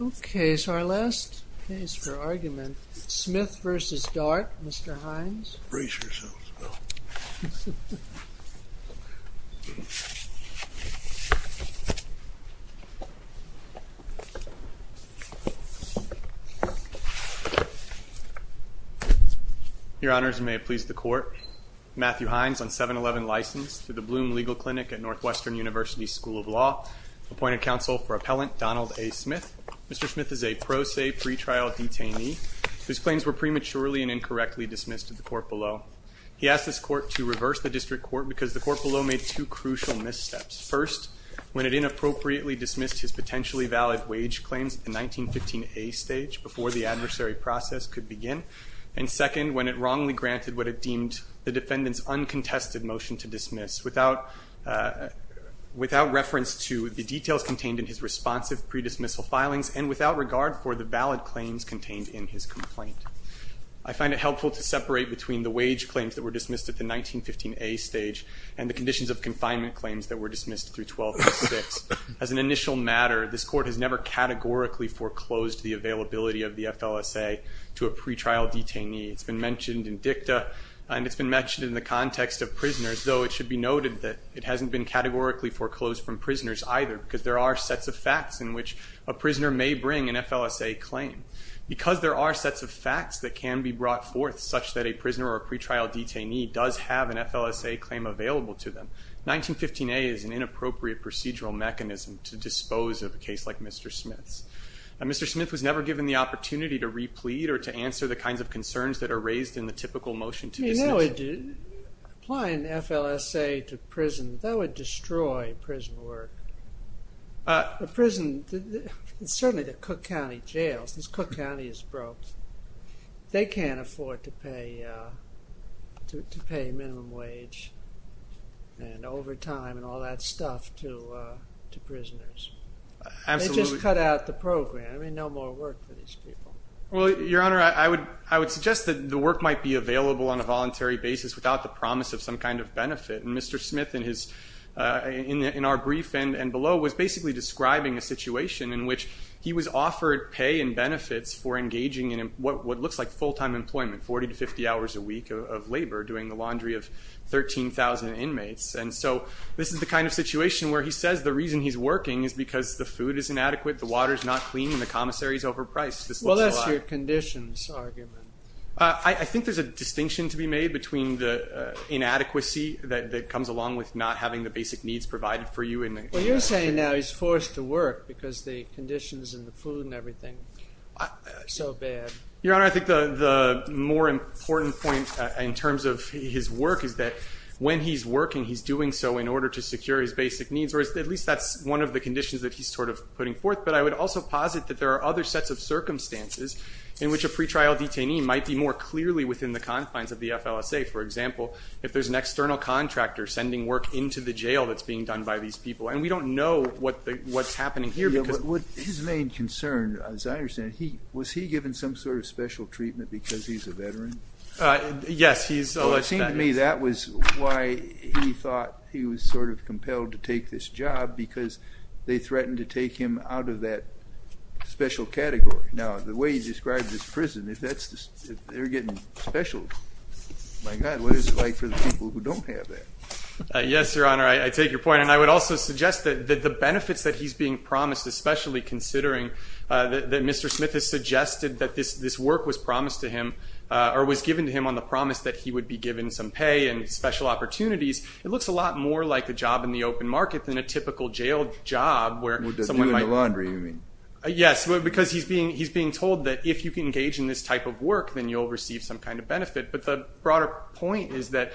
Okay, so our last case for argument, Smith v. Dart. Mr. Hines. Brace yourselves, Bill. Your Honors, and may it please the Court. Matthew Hines, on 7-11 license, to the Bloom Legal Clinic at Northwestern University School of Law, appointed counsel for appellant Donald A. Smith. Mr. Smith is a pro se pretrial detainee whose claims were prematurely and incorrectly dismissed at the court below. He asked this court to reverse the district court because the court below made two crucial missteps. First, when it inappropriately dismissed his potentially valid wage claims at the 1915A stage before the adversary process could begin, and second, when it wrongly granted what it deemed the defendant's uncontested motion to dismiss without reference to the details contained in his responsive pre-dismissal filings and without regard for the valid claims contained in his complaint. I find it helpful to separate between the wage claims that were dismissed at the 1915A stage and the conditions of confinement claims that were dismissed through 12-6. As an initial matter, this court has never categorically foreclosed the availability of the FLSA to a pretrial detainee. It's been mentioned in dicta, and it's been mentioned in the context of prisoners, though it should be noted that it hasn't been categorically foreclosed from prisoners either because there are sets of facts in which a prisoner may bring an FLSA claim. Because there are sets of facts that can be brought forth such that a prisoner or a pretrial detainee does have an FLSA claim available to them, 1915A is an inappropriate procedural mechanism to dispose of a case like Mr. Smith's. Mr. Smith was never given the opportunity to re-plead or to answer the kinds of concerns that are raised in the typical motion to dismiss. You know, applying FLSA to prison, that would destroy prison work. A prison, certainly the world, they can't afford to pay minimum wage and overtime and all that stuff to prisoners. Absolutely. They just cut out the program. I mean, no more work for these people. Well, Your Honor, I would suggest that the work might be available on a voluntary basis without the promise of some kind of benefit. And Mr. Smith, in our brief and below, was basically describing a situation in which he was offered pay and benefits for engaging in what looks like full-time employment, 40 to 50 hours a week of labor, doing the laundry of 13,000 inmates. And so this is the kind of situation where he says the reason he's working is because the food is inadequate, the water is not clean, and the commissary is overpriced. Well, that's your conditions argument. I think there's a distinction to be made between the inadequacy that comes along with not having the basic needs provided for you in the... Well, you're saying now he's forced to work because the conditions and the food and everything are so bad. Your Honor, I think the more important point in terms of his work is that when he's working, he's doing so in order to secure his basic needs, or at least that's one of the conditions that he's sort of putting forth. But I would also posit that there are other sets of circumstances in which a pretrial detainee might be more clearly within the confines of the FLSA. For example, if there's an external contractor sending work into the FLSA, they don't know what's happening here because... Yeah, but his main concern, as I understand it, was he given some sort of special treatment because he's a veteran? Yes, he's alleged that he is. Well, it seemed to me that was why he thought he was sort of compelled to take this job, because they threatened to take him out of that special category. Now, the way you described this prison, if they're getting special, my God, what is it like for the people who don't have that? Yes, Your Honor, I take your point. And I would also suggest that the benefits that he's being promised, especially considering that Mr. Smith has suggested that this work was promised to him, or was given to him on the promise that he would be given some pay and special opportunities, it looks a lot more like a job in the open market than a typical jail job where someone might... Would they do it in the laundry, you mean? Yes, because he's being told that if you can engage in this type of work, then you'll receive some kind of benefit. But the broader point is that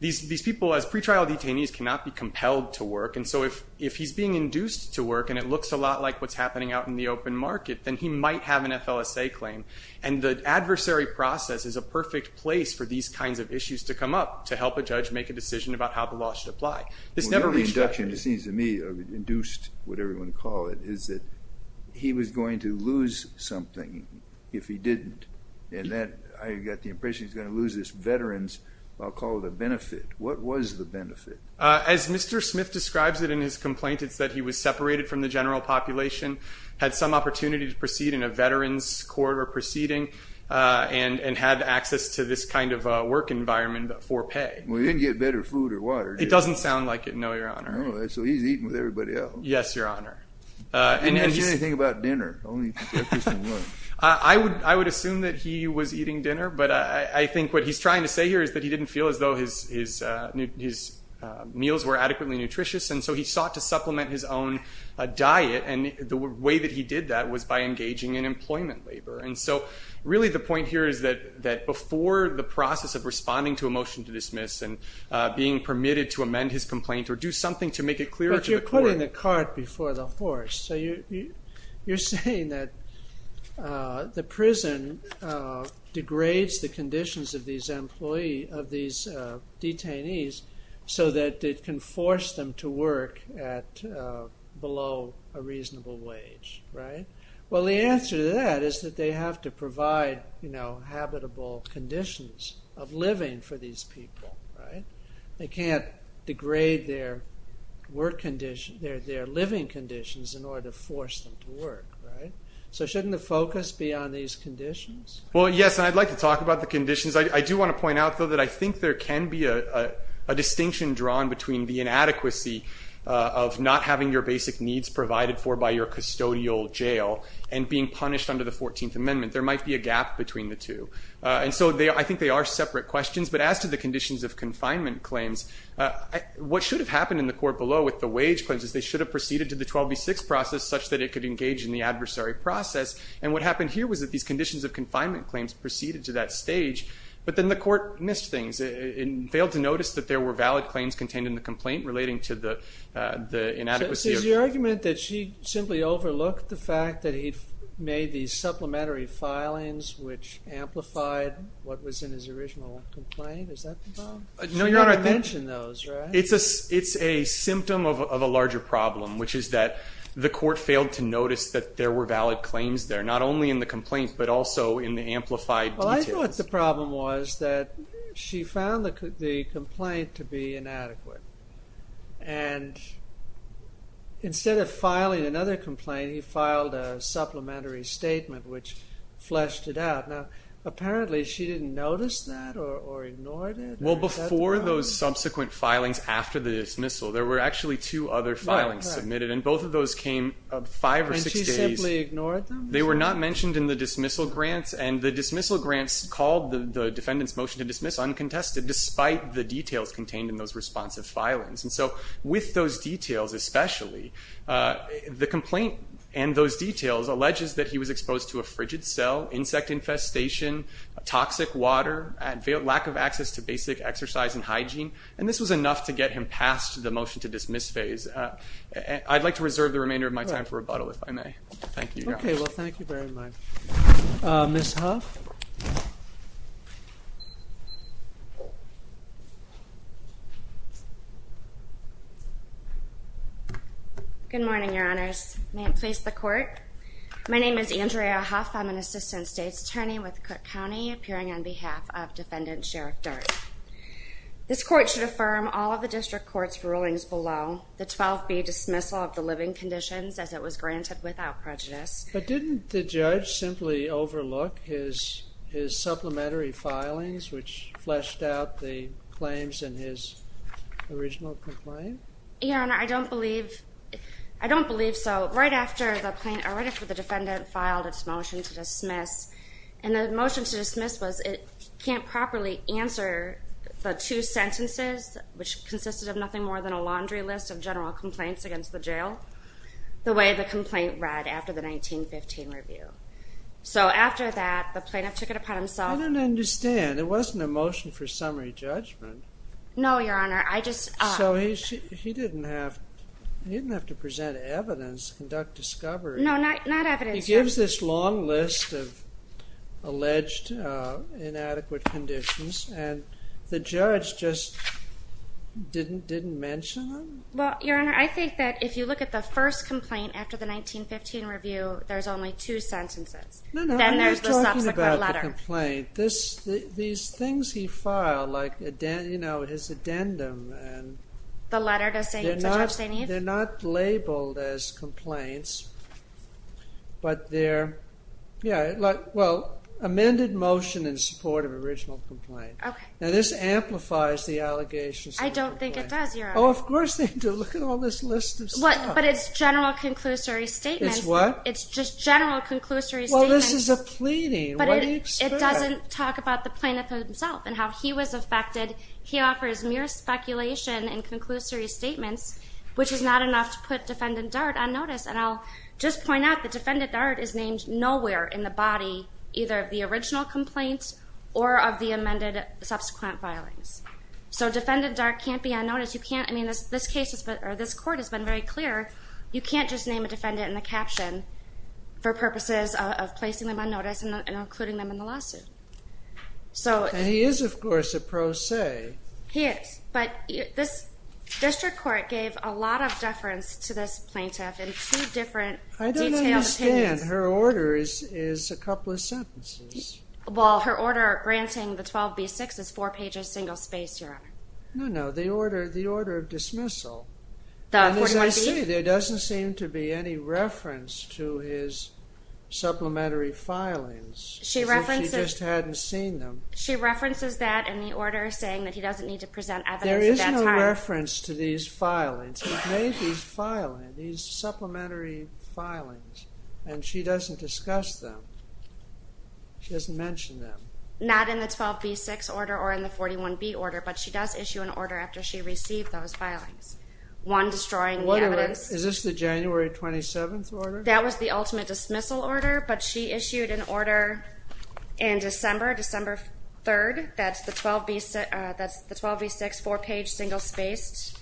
these people, as pretrial detainees, cannot be compelled to work. And so if he's being induced to work, and it looks a lot like what's happening out in the open market, then he might have an FLSA claim. And the adversary process is a perfect place for these kinds of issues to come up, to help a judge make a decision about how the law should apply. This never reached... Well, the induction, it seems to me, induced, whatever you want to call it, is that he was going to lose something if he didn't. And that, I got the impression he's going to lose this veteran's, I'll call it a benefit. What was the benefit? As Mr. Smith describes it in his complaint, it's that he was separated from the general population, had some opportunity to proceed in a veteran's court or proceeding, and had access to this kind of work environment for pay. Well, he didn't get better food or water, did he? It doesn't sound like it, no, Your Honor. No, so he's eating with everybody else. Yes, Your Honor. And he didn't say anything about dinner, only breakfast and lunch. I would assume that he was eating dinner, but I think what he's trying to say here is that he didn't feel as though his meals were adequately nutritious, and so he sought to supplement his own diet, and the way that he did that was by engaging in employment labor. And so really the point here is that before the process of responding to a motion to dismiss and being permitted to amend his complaint or do something to make it clear to the court... But you're putting the cart before the horse, so you're saying that the prison degrades the conditions of these employees, of these detainees, so that it can force them to work at below a reasonable wage, right? Well, the answer to that is that they have to provide, you know, habitable conditions of living for these people, right? They can't degrade their work conditions, their living conditions in order to force them to work, right? So shouldn't the focus be on these conditions? Well, yes, and I'd like to talk about the conditions. I do want to point out, though, that I think there can be a distinction drawn between the inadequacy of not having your basic needs provided for by your custodial jail and being punished under the 14th Amendment. There might be a gap between the two. And so I think they are separate questions, but as to the conditions of confinement claims, what should have happened in the court below with the wage claims is they should have proceeded to the 12B6 process such that it could engage in the adversary process. And what happened here was that these conditions of confinement claims proceeded to that stage, but then the court missed things and failed to notice that there were valid claims contained in the complaint relating to the inadequacy of... So is your argument that she simply overlooked the fact that he made these supplementary filings which amplified what was in his original complaint? Is that the problem? No, Your Honor. She never mentioned those, right? It's a symptom of a larger problem, which is that the court failed to notice that there were valid claims there, not only in the complaint, but also in the amplified details. Well, I thought the problem was that she found the complaint to be inadequate. And instead of filing another complaint, he filed a supplementary statement, which fleshed it out. Now, apparently, she didn't notice that or ignored it? Well, before those subsequent filings after the dismissal, there were actually two other filings submitted, and both of those came five or six days. And she simply ignored them? They were not mentioned in the dismissal grants, and the dismissal grants called the defendant's response of filings. And so with those details especially, the complaint and those details alleges that he was exposed to a frigid cell, insect infestation, toxic water, and lack of access to basic exercise and hygiene. And this was enough to get him past the motion to dismiss phase. I'd like to reserve the remainder of my time for rebuttal, if I may. Thank you, Your Honor. Okay. Well, thank you very much. Ms. Huff? Good morning, Your Honors. May it please the Court? My name is Andrea Huff. I'm an assistant state's attorney with Cook County, appearing on behalf of Defendant Sheriff Durk. This Court should affirm all of the District Court's rulings below the 12B dismissal of the living conditions as it was granted without prejudice. But didn't the judge simply overlook his supplementary filings, which fleshed out the claims in his original complaint? Your Honor, I don't believe so. Right after the defendant filed its motion to dismiss, and the motion to dismiss was it can't properly answer the two sentences, which consisted of nothing more than a laundry list of general complaints against the jail, the way the complaint read after the 1915 review. So, after that, the plaintiff took it upon himself— I don't understand. It wasn't a motion for summary judgment. No, Your Honor. I just— So, he didn't have to present evidence, conduct discovery. No, not evidence. He gives this long list of alleged inadequate conditions, and the judge just didn't mention them? Well, Your Honor, I think that if you look at the first complaint after the 1915 review, there's only two sentences. No, no. I'm talking about the complaint. These things he filed, like, you know, his addendum, and— The letter to Judge St. Eve? They're not labeled as complaints, but they're—yeah, well, amended motion in support of original complaint. Okay. Now, this amplifies the allegations. I don't think it does, Your Honor. Oh, of course they do. Look at all this list of stuff. But it's general conclusory statements. It's what? It's just general conclusory statements. Well, this is a pleading. What do you expect? But it doesn't talk about the plaintiff himself and how he was affected. He offers mere speculation and conclusory statements, which is not enough to put Defendant Dart on notice. And I'll just point out that Defendant Dart is named nowhere in the body, either of the original complaint or of the amended subsequent filings. So, Defendant Dart can't be on notice. You can't—I mean, this case has been—or this court has been very clear. You can't just name a defendant in the caption for purposes of placing them on notice and including them in the lawsuit. So— And he is, of course, a pro se. He is. But this district court gave a lot of deference to this plaintiff in two different detailed opinions. I don't understand. Her order is a couple of sentences. Well, her order granting the 12B6 is four pages, single space, Your Honor. No, no. The order of dismissal. The 41B? And as I see, there doesn't seem to be any reference to his supplementary filings. She references— As if she just hadn't seen them. She references that in the order, saying that he doesn't need to present evidence at that time. There is no reference to these filings. He's made these filings, these supplementary filings, and she doesn't discuss them. She doesn't mention them. Not in the 12B6 order or in the 41B order, but she does issue an order after she received those filings. One, destroying the evidence— Wait a minute. Is this the January 27th order? That was the ultimate dismissal order, but she issued an order in December, December 3rd. That's the 12B6, four page, single spaced.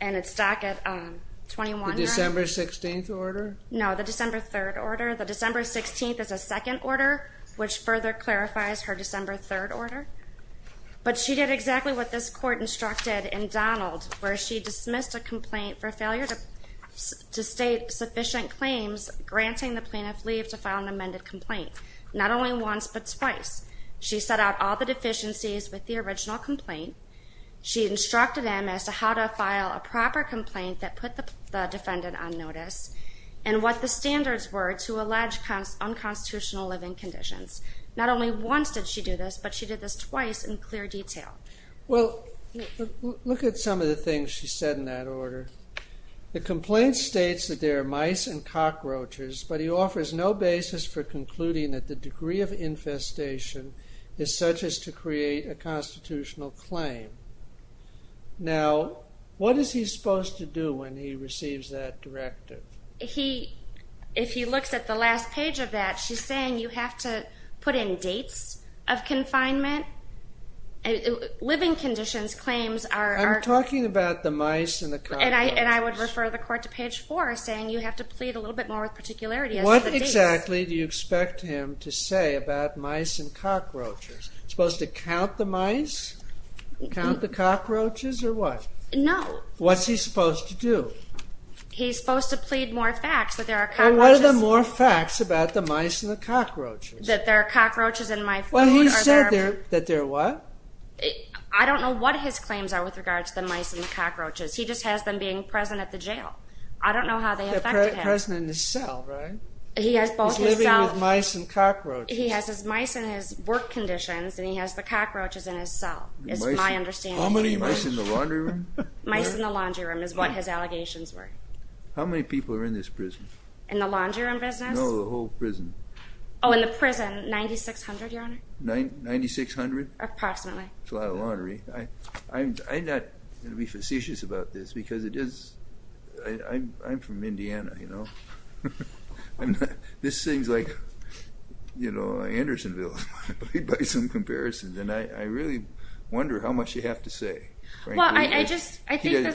And it's back at 21— The December 16th order? No. The December 3rd order. The December 16th is a second order, which further clarifies her December 3rd order. But she did exactly what this court instructed in Donald, where she dismissed a complaint for failure to state sufficient claims, granting the plaintiff leave to file an amended complaint. Not only once, but twice. She set out all the deficiencies with the original complaint. She instructed him as to how to file a proper complaint that put the defendant on notice, and what the standards were to allege unconstitutional living conditions. Not only once did she do this, but she did this twice in clear detail. Well, look at some of the things she said in that order. The complaint states that there are mice and cockroaches, but he offers no basis for concluding that the degree of infestation is such as to create a constitutional claim. Now, what is he supposed to do when he receives that directive? If he looks at the last page of that, she's saying you have to put in dates of confinement. Living conditions claims are— I'm talking about the mice and the cockroaches. And I would refer the court to page 4, saying you have to plead a little bit more with particularity as to the dates. What exactly do you expect him to say about mice and cockroaches? Supposed to count the mice, count the cockroaches, or what? No. What's he supposed to do? He's supposed to plead more facts that there are cockroaches— Well, what are the more facts about the mice and the cockroaches? That there are cockroaches in my food, or there are— Well, he said that there are what? I don't know what his claims are with regards to the mice and the cockroaches. He just has them being present at the jail. I don't know how they affected him. They're present in his cell, right? He has both his cell— He's living with mice and cockroaches. He has his mice in his work conditions, and he has the cockroaches in his cell, is my understanding. Mice in the laundry room? Mice in the laundry room is what his allegations were. How many people are in this prison? In the laundry room business? No, the whole prison. Oh, in the prison, 9,600, Your Honor? 9,600? Approximately. That's a lot of laundry. I'm not going to be facetious about this, because it is— I'm from Indiana, you know? This thing's like, you know, Andersonville, by some comparisons. And I really wonder how much you have to say. Well, I just—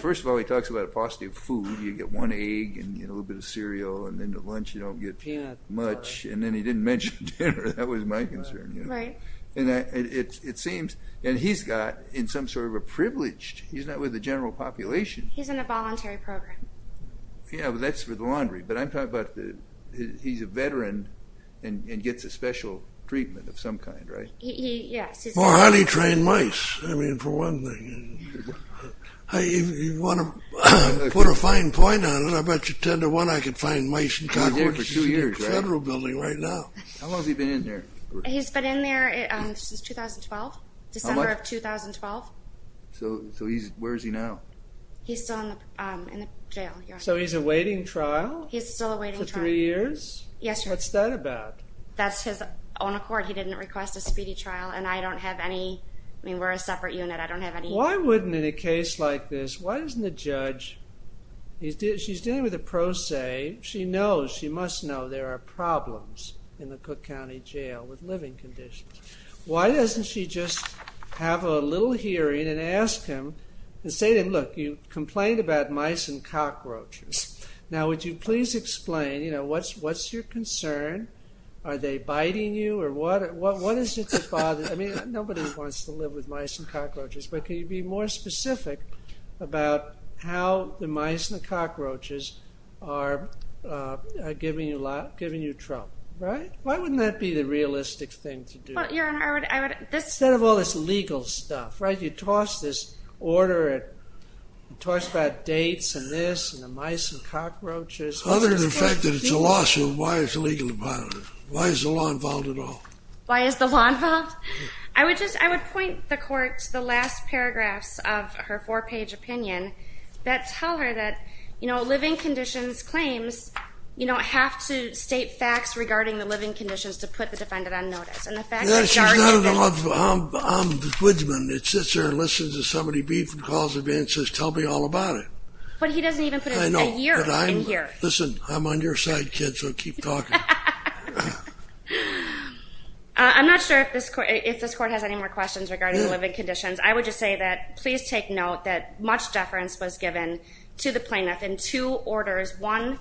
First of all, he talks about a paucity of food. You get one egg and a little bit of cereal, and then the lunch, you don't get much. And then he didn't mention dinner. That was my concern. Right. And it seems—and he's got, in some sort of a privileged—he's not with the general population. He's in a voluntary program. Yeah, but that's for the laundry. But I'm talking about—he's a veteran and gets a special treatment of some kind, right? Yes. More honey-trained mice, I mean, for one thing. If you want to put a fine point on it, I bet you ten to one I could find mice in Concord's federal building right now. How long has he been in there? He's been in there since 2012, December of 2012. So where is he now? He's still in the jail, Your Honor. So he's awaiting trial? He's still awaiting trial. For three years? Yes, Your Honor. What's that about? That's his own accord. He didn't request a speedy trial, and I don't have any—I mean, we're a separate unit. I don't have any— Why wouldn't, in a case like this, why doesn't the judge—she's dealing with a pro se. She knows, she must know there are problems in the Cook County Jail with living conditions. Why doesn't she just have a little hearing and ask him and say to him, Look, you complained about mice and cockroaches. Now, would you please explain, you know, what's your concern? Are they biting you or what? What is it that bothers—I mean, nobody wants to live with mice and cockroaches, but could you be more specific about how the mice and the cockroaches are giving you trouble, right? Why wouldn't that be the realistic thing to do? Well, Your Honor, I would— Instead of all this legal stuff, right? If you toss this order, it talks about dates and this and the mice and cockroaches. Other than the fact that it's a lawsuit, why is it legally violated? Why is the law involved at all? Why is the law involved? I would just—I would point the Court to the last paragraphs of her four-page opinion that tell her that, you know, living conditions claims, you know, have to state facts regarding the living conditions to put the defendant on notice. No, she's not on the law. I'm the judgment. It sits there and listens to somebody beep and calls it in and says, tell me all about it. But he doesn't even put a year in here. I know, but I'm—listen, I'm on your side, kid, so keep talking. I'm not sure if this Court has any more questions regarding the living conditions. I would just say that please take note that much deference was given to the plaintiff in two orders, one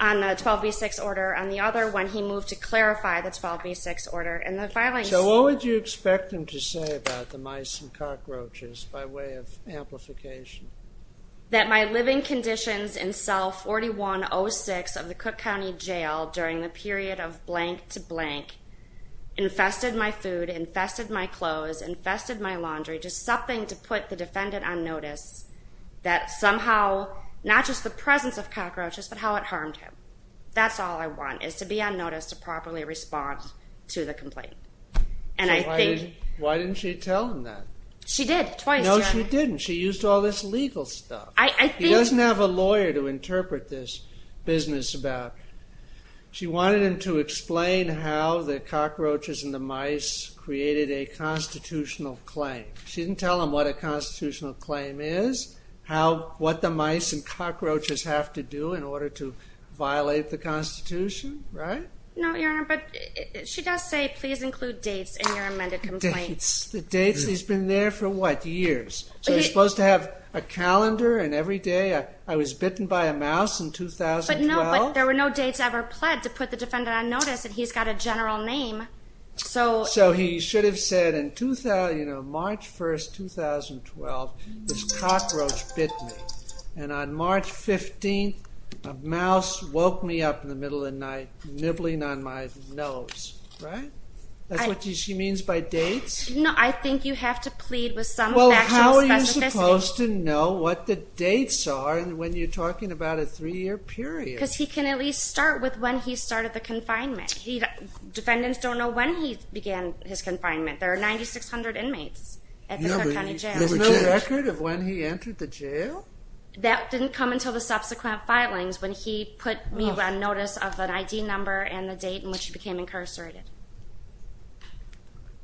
on the 12b6 order, and the other when he moved to clarify the 12b6 order in the filing. So what would you expect him to say about the mice and cockroaches by way of amplification? That my living conditions in cell 4106 of the Cook County Jail during the period of blank to blank infested my food, infested my clothes, infested my laundry, just something to put the defendant on notice that somehow, not just the presence of cockroaches, but how it harmed him. That's all I want is to be on notice to properly respond to the complaint. And I think— Why didn't she tell him that? She did, twice. No, she didn't. She used all this legal stuff. I think— He doesn't have a lawyer to interpret this business about. She wanted him to explain how the cockroaches and the mice created a constitutional claim. She didn't tell him what a constitutional claim is, what the mice and cockroaches have to do in order to violate the Constitution, right? No, Your Honor, but she does say, please include dates in your amended complaint. Dates? The dates? He's been there for what, years? So he's supposed to have a calendar, and every day I was bitten by a mouse in 2012? But no, there were no dates ever pled to put the defendant on notice, and he's got a general name. So he should have said in March 1, 2012, this cockroach bit me, and on March 15, a mouse woke me up in the middle of the night, nibbling on my nose, right? That's what she means by dates? No, I think you have to plead with some factual specificity. Well, how are you supposed to know what the dates are when you're talking about a three-year period? Because he can at least start with when he started the confinement. Defendants don't know when he began his confinement. There are 9,600 inmates at the Clark County Jail. There's no record of when he entered the jail? That didn't come until the subsequent filings when he put me on notice of an ID number and the date in which he became incarcerated.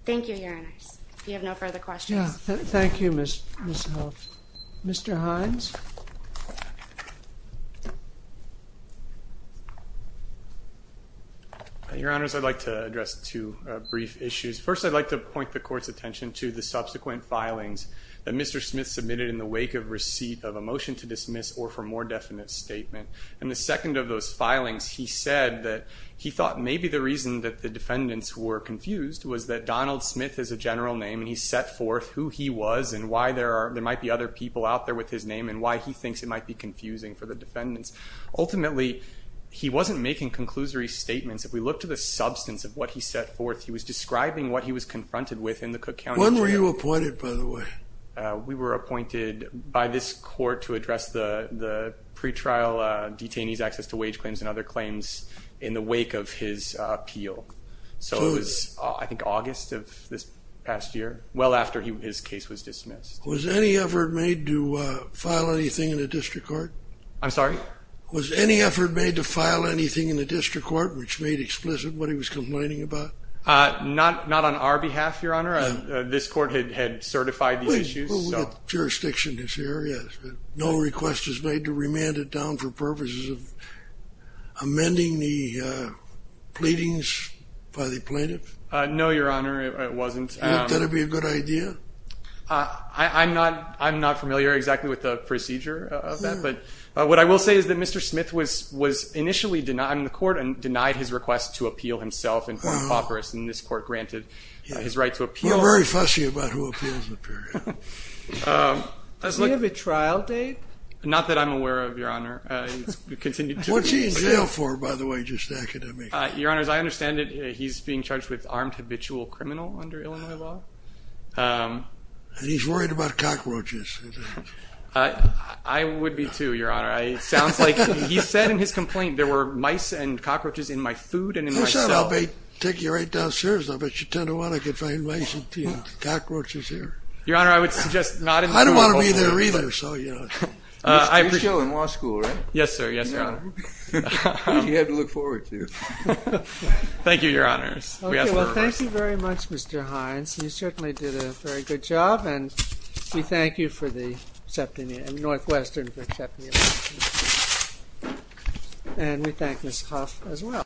Thank you, Your Honors. If you have no further questions. Thank you, Ms. Hoff. Mr. Hines? Your Honors, I'd like to address two brief issues. First, I'd like to point the Court's attention to the subsequent filings that Mr. Smith submitted in the wake of receipt of a motion to dismiss or for more definite statement. In the second of those filings, he said that he thought maybe the reason that the defendants were confused was that Donald Smith is a general name and he set forth who he was and why there might be other people out there with his name and why he thinks it might be confusing for the defendants. Ultimately, he wasn't making conclusory statements. If we look to the substance of what he set forth, he was describing what he was confronted with in the Cook County Jail. When were you appointed, by the way? We were appointed by this Court to address the pretrial detainees' access to wage claims and other claims in the wake of his appeal. So it was, I think, August of this past year, well after his case was dismissed. Was any effort made to file anything in the District Court? I'm sorry? Was any effort made to file anything in the District Court which made explicit what he was complaining about? Not on our behalf, Your Honor. This Court had certified these issues. Well, we've got jurisdiction in this area. No request was made to remand it down for purposes of amending the pleadings by the plaintiff? No, Your Honor, it wasn't. You think that would be a good idea? I'm not familiar exactly with the procedure of that, but what I will say is that Mr. Smith was initially denied in the Court and denied his request to appeal himself in form of papyrus, and this Court granted his right to appeal. You're very fussy about who appeals in the period. Does he have a trial date? Not that I'm aware of, Your Honor. What's he in jail for, by the way, just academically? Your Honor, as I understand it, he's being charged with armed habitual criminal under Illinois law. And he's worried about cockroaches. I would be too, Your Honor. It sounds like he said in his complaint there were mice and cockroaches in my food and in my cell. Who said I'll take you right downstairs? I bet you ten to one I could find mice and cockroaches here. Your Honor, I would suggest not in the courtroom. I don't want to be there either, so, you know. You showed him law school, right? Yes, sir, yes, Your Honor. Which he had to look forward to. Thank you, Your Honors. Okay, well, thank you very much, Mr. Hines. You certainly did a very good job, and we thank you for the Northwestern Septimia Foundation. And we thank Ms. Hough as well.